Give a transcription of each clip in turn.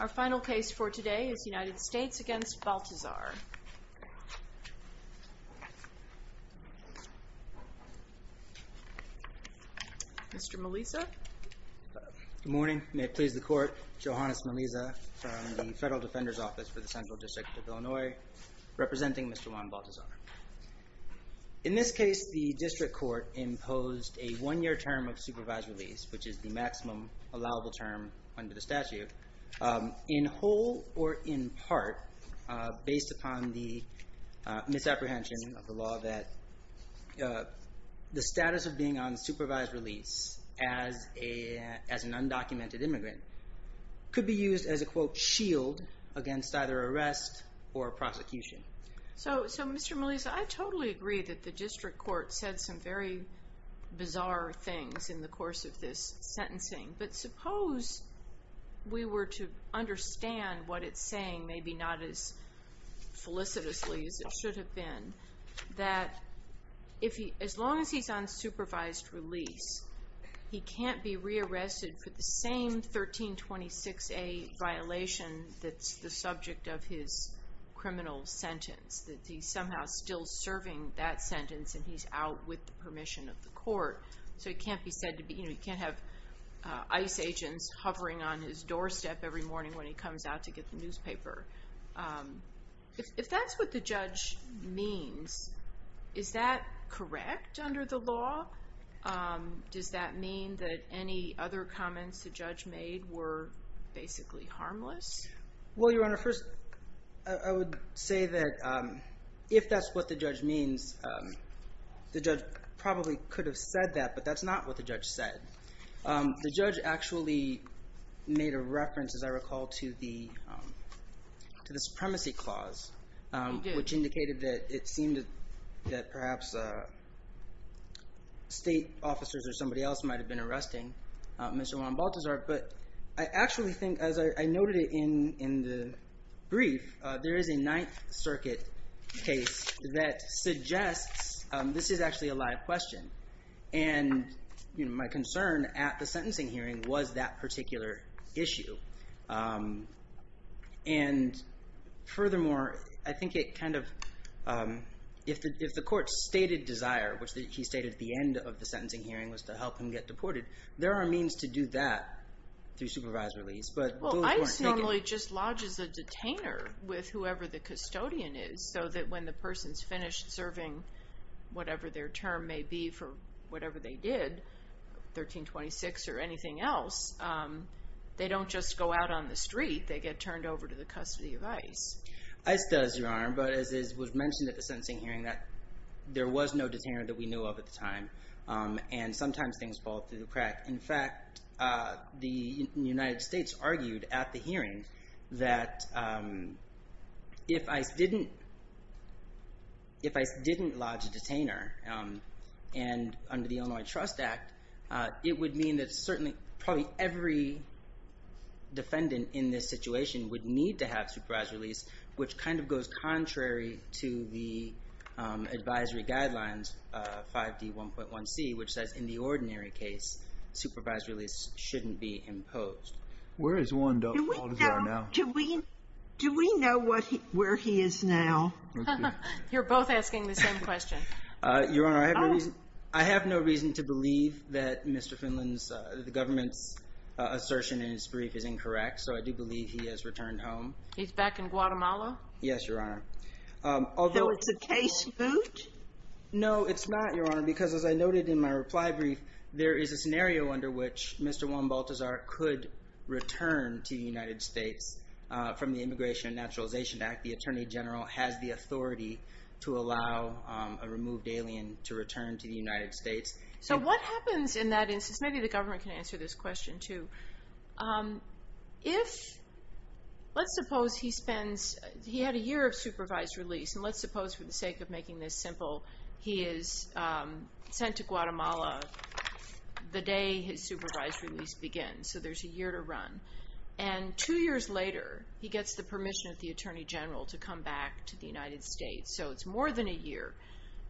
Our final case for today is United States against Baltazar. Mr. Melisa. Good morning. May it please the court. Johannes Melisa from the Federal Defender's Office for the Central District of Illinois, representing Mr. Juan Baltazar. In this case, the district court imposed a one-year term of supervised release, which is the maximum allowable term under the statute, in whole or in part, based upon the misapprehension of the law that the status of being on supervised release as an undocumented immigrant could be used as a, quote, shield against either arrest or prosecution. So, Mr. Melisa, I totally agree that the district court said some very bizarre things in the course of this sentencing, but suppose we were to understand what it's saying, maybe not as felicitously as it should have been, that as long as he's on supervised release, he can't be rearrested for the same 1326A violation that's the subject of his criminal sentence. That he's somehow still serving that sentence and he's out with the permission of the court. So he can't be said to be, you know, he can't have ICE agents hovering on his doorstep every morning when he comes out to get the newspaper. If that's what the judge means, is that correct under the law? Does that mean that any other comments the judge made were basically harmless? Well, Your Honor, first I would say that if that's what the judge means, the judge probably could have said that, but that's not what the judge said. The judge actually made a reference, as I recall, to the supremacy clause, which indicated that it seemed that perhaps state officers or somebody else might have been arresting Mr. Juan Baltazar. But I actually think, as I noted in the brief, there is a Ninth Circuit case that suggests this is actually a live question. And my concern at the sentencing hearing was that particular issue. And furthermore, I think it kind of, if the court stated desire, which he stated at the end of the sentencing hearing was to help him get deported, there are means to do that through supervised release. Well, ICE normally just lodges a detainer with whoever the custodian is so that when the person's finished serving, whatever their term may be for whatever they did, 1326 or anything else, they don't just go out on the street. They get turned over to the custody of ICE. ICE does, Your Honor, but as was mentioned at the sentencing hearing, that there was no detainer that we knew of at the time. And sometimes things fall through the crack. In fact, the United States argued at the hearing that if ICE didn't lodge a detainer, and under the Illinois Trust Act, it would mean that certainly probably every defendant in this situation would need to have supervised release, which kind of goes contrary to the advisory guidelines, 5D1.1c, which says in the ordinary case, supervised release shouldn't be imposed. Do we know where he is now? You're both asking the same question. Your Honor, I have no reason to believe that Mr. Finland's, the government's assertion in his brief is incorrect. So I do believe he has returned home. He's back in Guatemala? Yes, Your Honor. So it's a case boot? No, it's not, Your Honor, because as I noted in my reply brief, there is a scenario under which Mr. Juan Balthazar could return to the United States from the Immigration and Naturalization Act. The Attorney General has the authority to allow a removed alien to return to the United States. So what happens in that instance? Maybe the government can answer this question too. If, let's suppose he spends, he had a year of supervised release, and let's suppose for the sake of making this simple, he is sent to Guatemala the day his supervised release begins. So there's a year to run. And two years later, he gets the permission of the Attorney General to come back to the United States. So it's more than a year.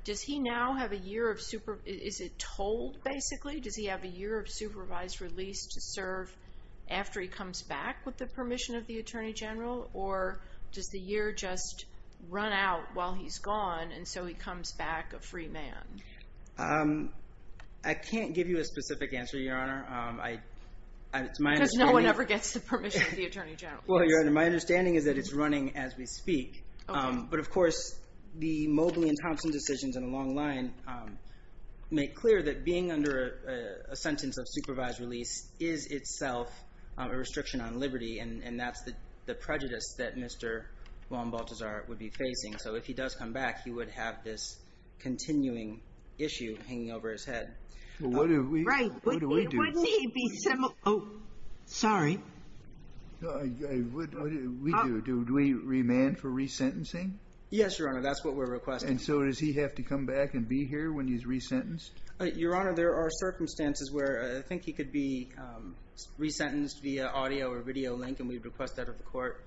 Does he now have a year of, is it told basically? Does he have a year of supervised release to serve after he comes back with the permission of the Attorney General? Or does the year just run out while he's gone, and so he comes back a free man? I can't give you a specific answer, Your Honor. Because no one ever gets the permission of the Attorney General. Well, Your Honor, my understanding is that it's running as we speak. But, of course, the Mobley and Thompson decisions in the long line make clear that being under a sentence of supervised release is itself a restriction on liberty. And that's the prejudice that Mr. Juan Baltazar would be facing. So if he does come back, he would have this continuing issue hanging over his head. Right. What do we do? Wouldn't he be, oh, sorry. What do we do? Do we remand for resentencing? Yes, Your Honor. That's what we're requesting. And so does he have to come back and be here when he's resentenced? Your Honor, there are circumstances where I think he could be resentenced via audio or video link, and we would request that of the court.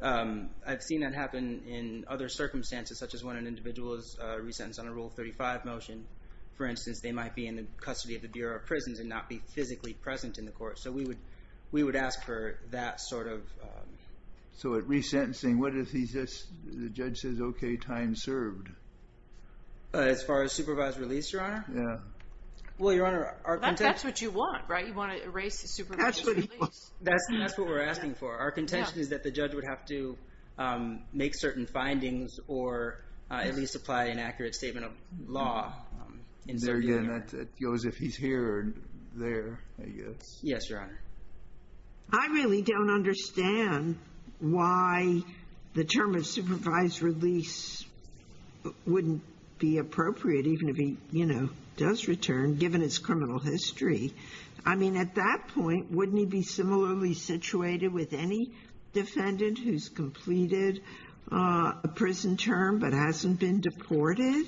I've seen that happen in other circumstances, such as when an individual is resentenced on a Rule 35 motion. For instance, they might be in the custody of the Bureau of Prisons and not be physically present in the court. So we would ask for that sort of… So at resentencing, what if the judge says, okay, time served? As far as supervised release, Your Honor? Yeah. Well, Your Honor, our contention… That's what you want, right? You want to erase the supervised release. That's what we're asking for. Our contention is that the judge would have to make certain findings or at least apply an accurate statement of law. There again, it goes if he's here or there, I guess. Yes, Your Honor. I really don't understand why the term of supervised release wouldn't be appropriate even if he, you know, does return, given his criminal history. I mean, at that point, wouldn't he be similarly situated with any defendant who's completed a prison term but hasn't been deported?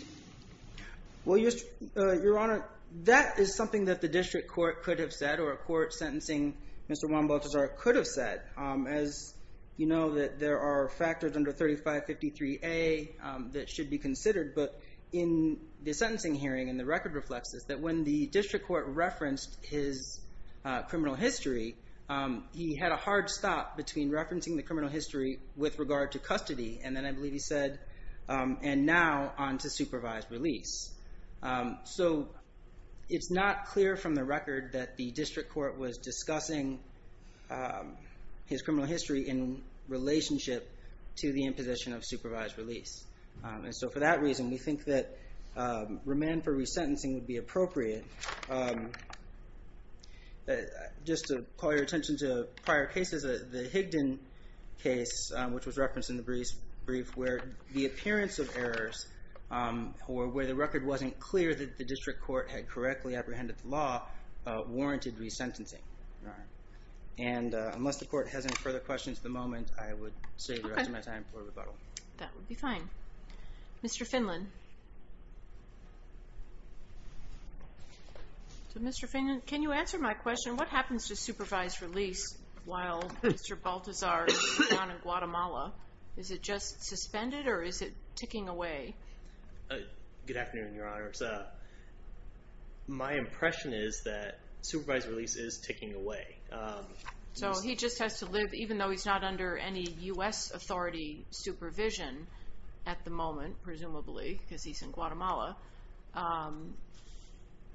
Well, Your Honor, that is something that the district court could have said or a court sentencing Mr. Juan Balthazar could have said. As you know, that there are factors under 3553A that should be considered. But in the sentencing hearing, and the record reflects this, that when the district court referenced his criminal history, he had a hard stop between referencing the criminal history with regard to custody. And then I believe he said, and now on to supervised release. So it's not clear from the record that the district court was discussing his criminal history in relationship to the imposition of supervised release. And so for that reason, we think that remand for resentencing would be appropriate. Okay. Just to call your attention to prior cases, the Higdon case, which was referenced in the brief, where the appearance of errors or where the record wasn't clear that the district court had correctly apprehended the law, warranted resentencing. And unless the court has any further questions at the moment, I would save the rest of my time for rebuttal. That would be fine. Mr. Finlan. Mr. Finlan, can you answer my question? What happens to supervised release while Mr. Baltazar is down in Guatemala? Is it just suspended or is it ticking away? Good afternoon, Your Honor. My impression is that supervised release is ticking away. So he just has to live, even though he's not under any U.S. authority supervision at the moment, presumably, because he's in Guatemala.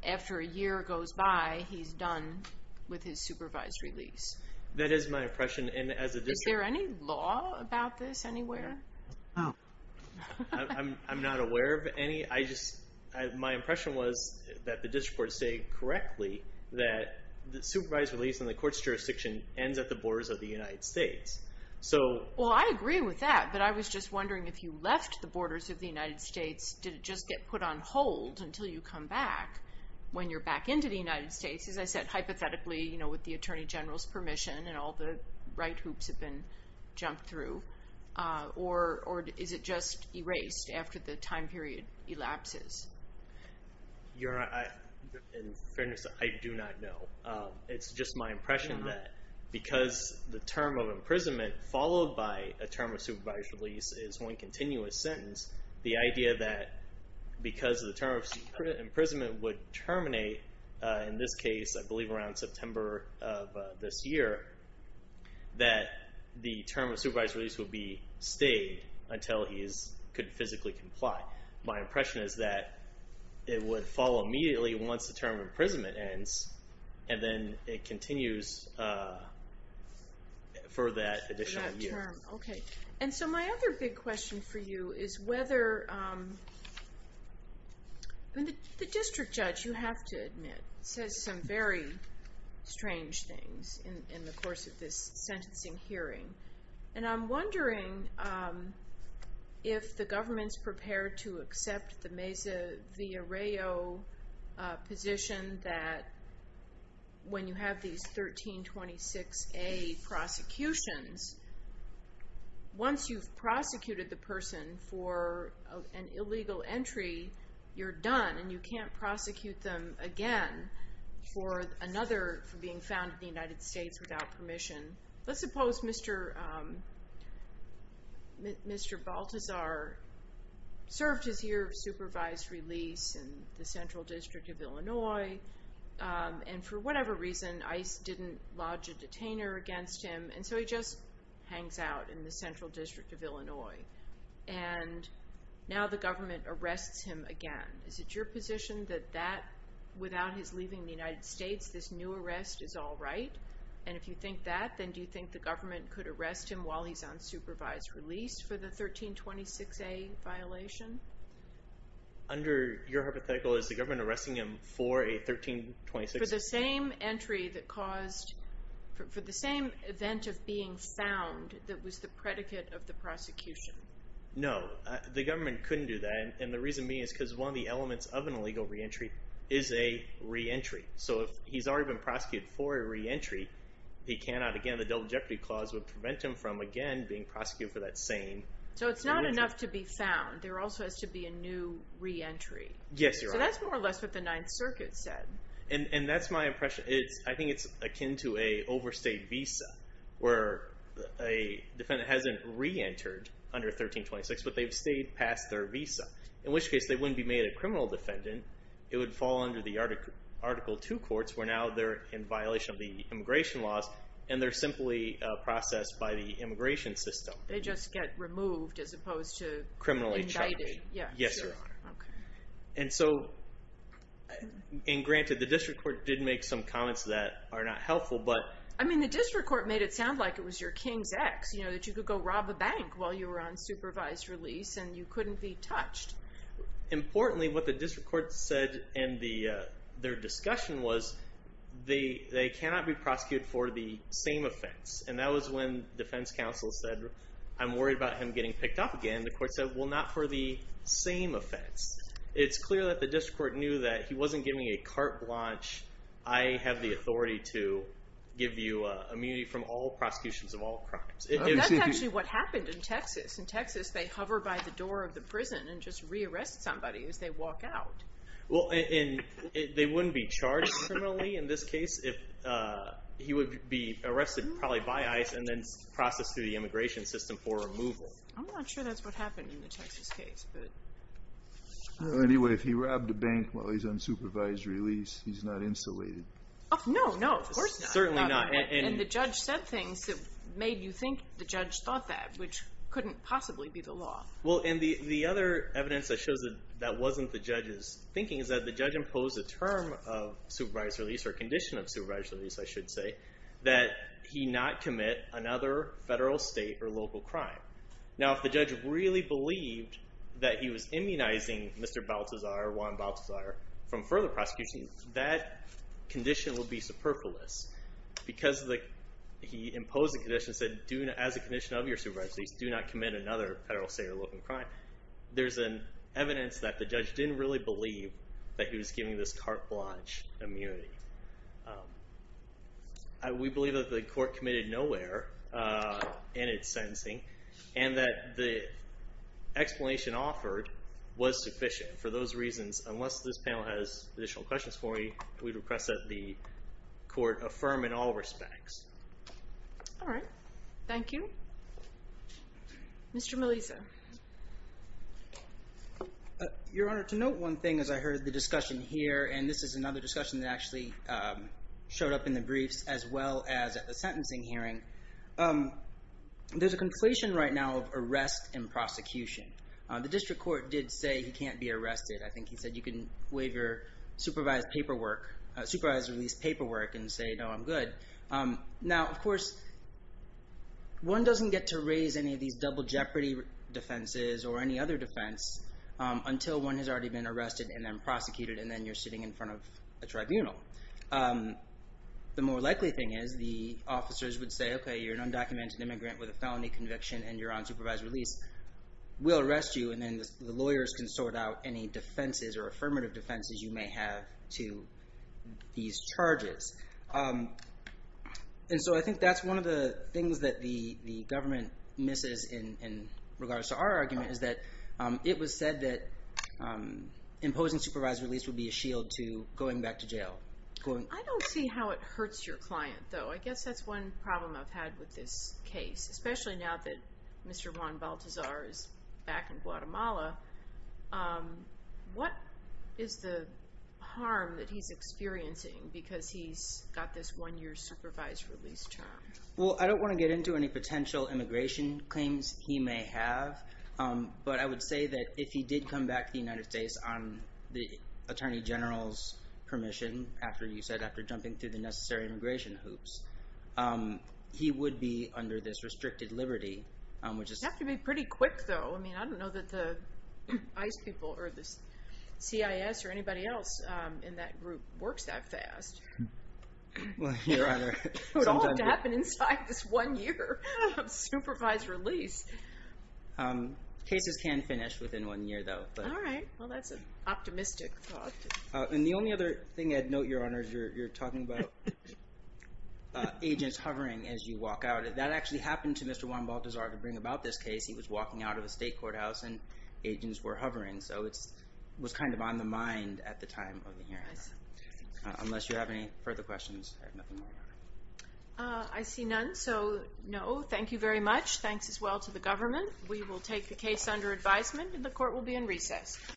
After a year goes by, he's done with his supervised release. That is my impression. Is there any law about this anywhere? I'm not aware of any. My impression was that the district court stated correctly that the supervised release in the court's jurisdiction ends at the borders of the United States. Well, I agree with that, but I was just wondering if you left the borders of the United States, did it just get put on hold until you come back when you're back into the United States? As I said, hypothetically, you know, with the Attorney General's permission and all the right hoops have been jumped through. Or is it just erased after the time period elapses? Your Honor, in fairness, I do not know. It's just my impression that because the term of imprisonment followed by a term of supervised release is one continuous sentence, the idea that because the term of imprisonment would terminate, in this case, I believe around September of this year, that the term of supervised release would be stayed until he could physically comply. My impression is that it would follow immediately once the term of imprisonment ends, and then it continues for that additional year. For that term, okay. And so my other big question for you is whether, I mean, the district judge, you have to admit, says some very strange things in the course of this sentencing hearing. And I'm wondering if the government's prepared to accept the Mesa v. Arreo position that when you have these 1326A prosecutions, once you've prosecuted the person for an illegal entry, you're done, and you can't prosecute them again for another, for being found in the United States without permission. Let's suppose Mr. Baltazar served his year of supervised release in the Central District of Illinois, and for whatever reason ICE didn't lodge a detainer against him, and so he just hangs out in the Central District of Illinois. And now the government arrests him again. Is it your position that that, without his leaving the United States, this new arrest is all right? And if you think that, then do you think the government could arrest him while he's on supervised release for the 1326A violation? Under your hypothetical, is the government arresting him for a 1326A? For the same entry that caused, for the same event of being found that was the predicate of the prosecution. No, the government couldn't do that. And the reason being is because one of the elements of an illegal reentry is a reentry. So if he's already been prosecuted for a reentry, he cannot, again, the Double Jeopardy Clause would prevent him from, again, being prosecuted for that same. So it's not enough to be found. There also has to be a new reentry. Yes, you're right. So that's more or less what the Ninth Circuit said. And that's my impression. I think it's akin to an overstayed visa, where a defendant hasn't reentered under 1326, but they've stayed past their visa. In which case, they wouldn't be made a criminal defendant. It would fall under the Article II courts, where now they're in violation of the immigration laws, and they're simply processed by the immigration system. They just get removed as opposed to indicted. Criminally charged. Yes, Your Honor. And so, and granted, the district court did make some comments that are not helpful, but— I mean, the district court made it sound like it was your king's ex, that you could go rob a bank while you were on supervised release, and you couldn't be touched. Importantly, what the district court said in their discussion was they cannot be prosecuted for the same offense. And that was when defense counsel said, I'm worried about him getting picked up again. The court said, well, not for the same offense. It's clear that the district court knew that he wasn't giving a carte blanche, I have the authority to give you immunity from all prosecutions of all crimes. That's actually what happened in Texas. In Texas, they hover by the door of the prison and just re-arrest somebody as they walk out. Well, and they wouldn't be charged criminally in this case if he would be arrested probably by ICE and then processed through the immigration system for removal. I'm not sure that's what happened in the Texas case, but— Anyway, if he robbed a bank while he's on supervised release, he's not insulated. No, no, of course not. Certainly not. And the judge said things that made you think the judge thought that, which couldn't possibly be the law. Well, and the other evidence that shows that that wasn't the judge's thinking is that the judge imposed a term of supervised release, or condition of supervised release, I should say, that he not commit another federal, state, or local crime. Now, if the judge really believed that he was immunizing Mr. Baltazar, Juan Baltazar, from further prosecution, that condition would be superfluous. Because he imposed a condition that said, as a condition of your supervised release, do not commit another federal, state, or local crime, there's evidence that the judge didn't really believe that he was giving this carte blanche immunity. We believe that the court committed no error in its sentencing and that the explanation offered was sufficient. For those reasons, unless this panel has additional questions for me, we'd request that the court affirm in all respects. All right. Thank you. Mr. Melisa. Your Honor, to note one thing as I heard the discussion here, and this is another discussion that actually showed up in the briefs as well as at the sentencing hearing, there's a conflation right now of arrest and prosecution. The district court did say he can't be arrested. I think he said you can waive your supervised release paperwork and say, no, I'm good. Now, of course, one doesn't get to raise any of these double jeopardy defenses or any other defense until one has already been arrested and then prosecuted and then you're sitting in front of a tribunal. The more likely thing is the officers would say, okay, you're an undocumented immigrant with a felony conviction and you're on supervised release. We'll arrest you and then the lawyers can sort out any defenses or affirmative defenses you may have to these charges. And so I think that's one of the things that the government misses in regards to our argument is that it was said that imposing supervised release would be a shield to going back to jail. I don't see how it hurts your client, though. I guess that's one problem I've had with this case, especially now that Mr. Juan Baltazar is back in Guatemala. What is the harm that he's experiencing because he's got this one year supervised release term? Well, I don't want to get into any potential immigration claims he may have. But I would say that if he did come back to the United States on the attorney general's permission, after you said after jumping through the necessary immigration hoops, he would be under this restricted liberty. It would have to be pretty quick, though. I mean, I don't know that the ICE people or the CIS or anybody else in that group works that fast. It would all have to happen inside this one year of supervised release. Cases can finish within one year, though. All right. Well, that's an optimistic thought. And the only other thing I'd note, Your Honor, is you're talking about agents hovering as you walk out. That actually happened to Mr. Juan Baltazar to bring about this case. He was walking out of a state courthouse, and agents were hovering. So it was kind of on the mind at the time of the hearing. Unless you have any further questions, I have nothing more, Your Honor. I see none, so no. Thank you very much. Thanks as well to the government. We will take the case under advisement, and the court will be in recess.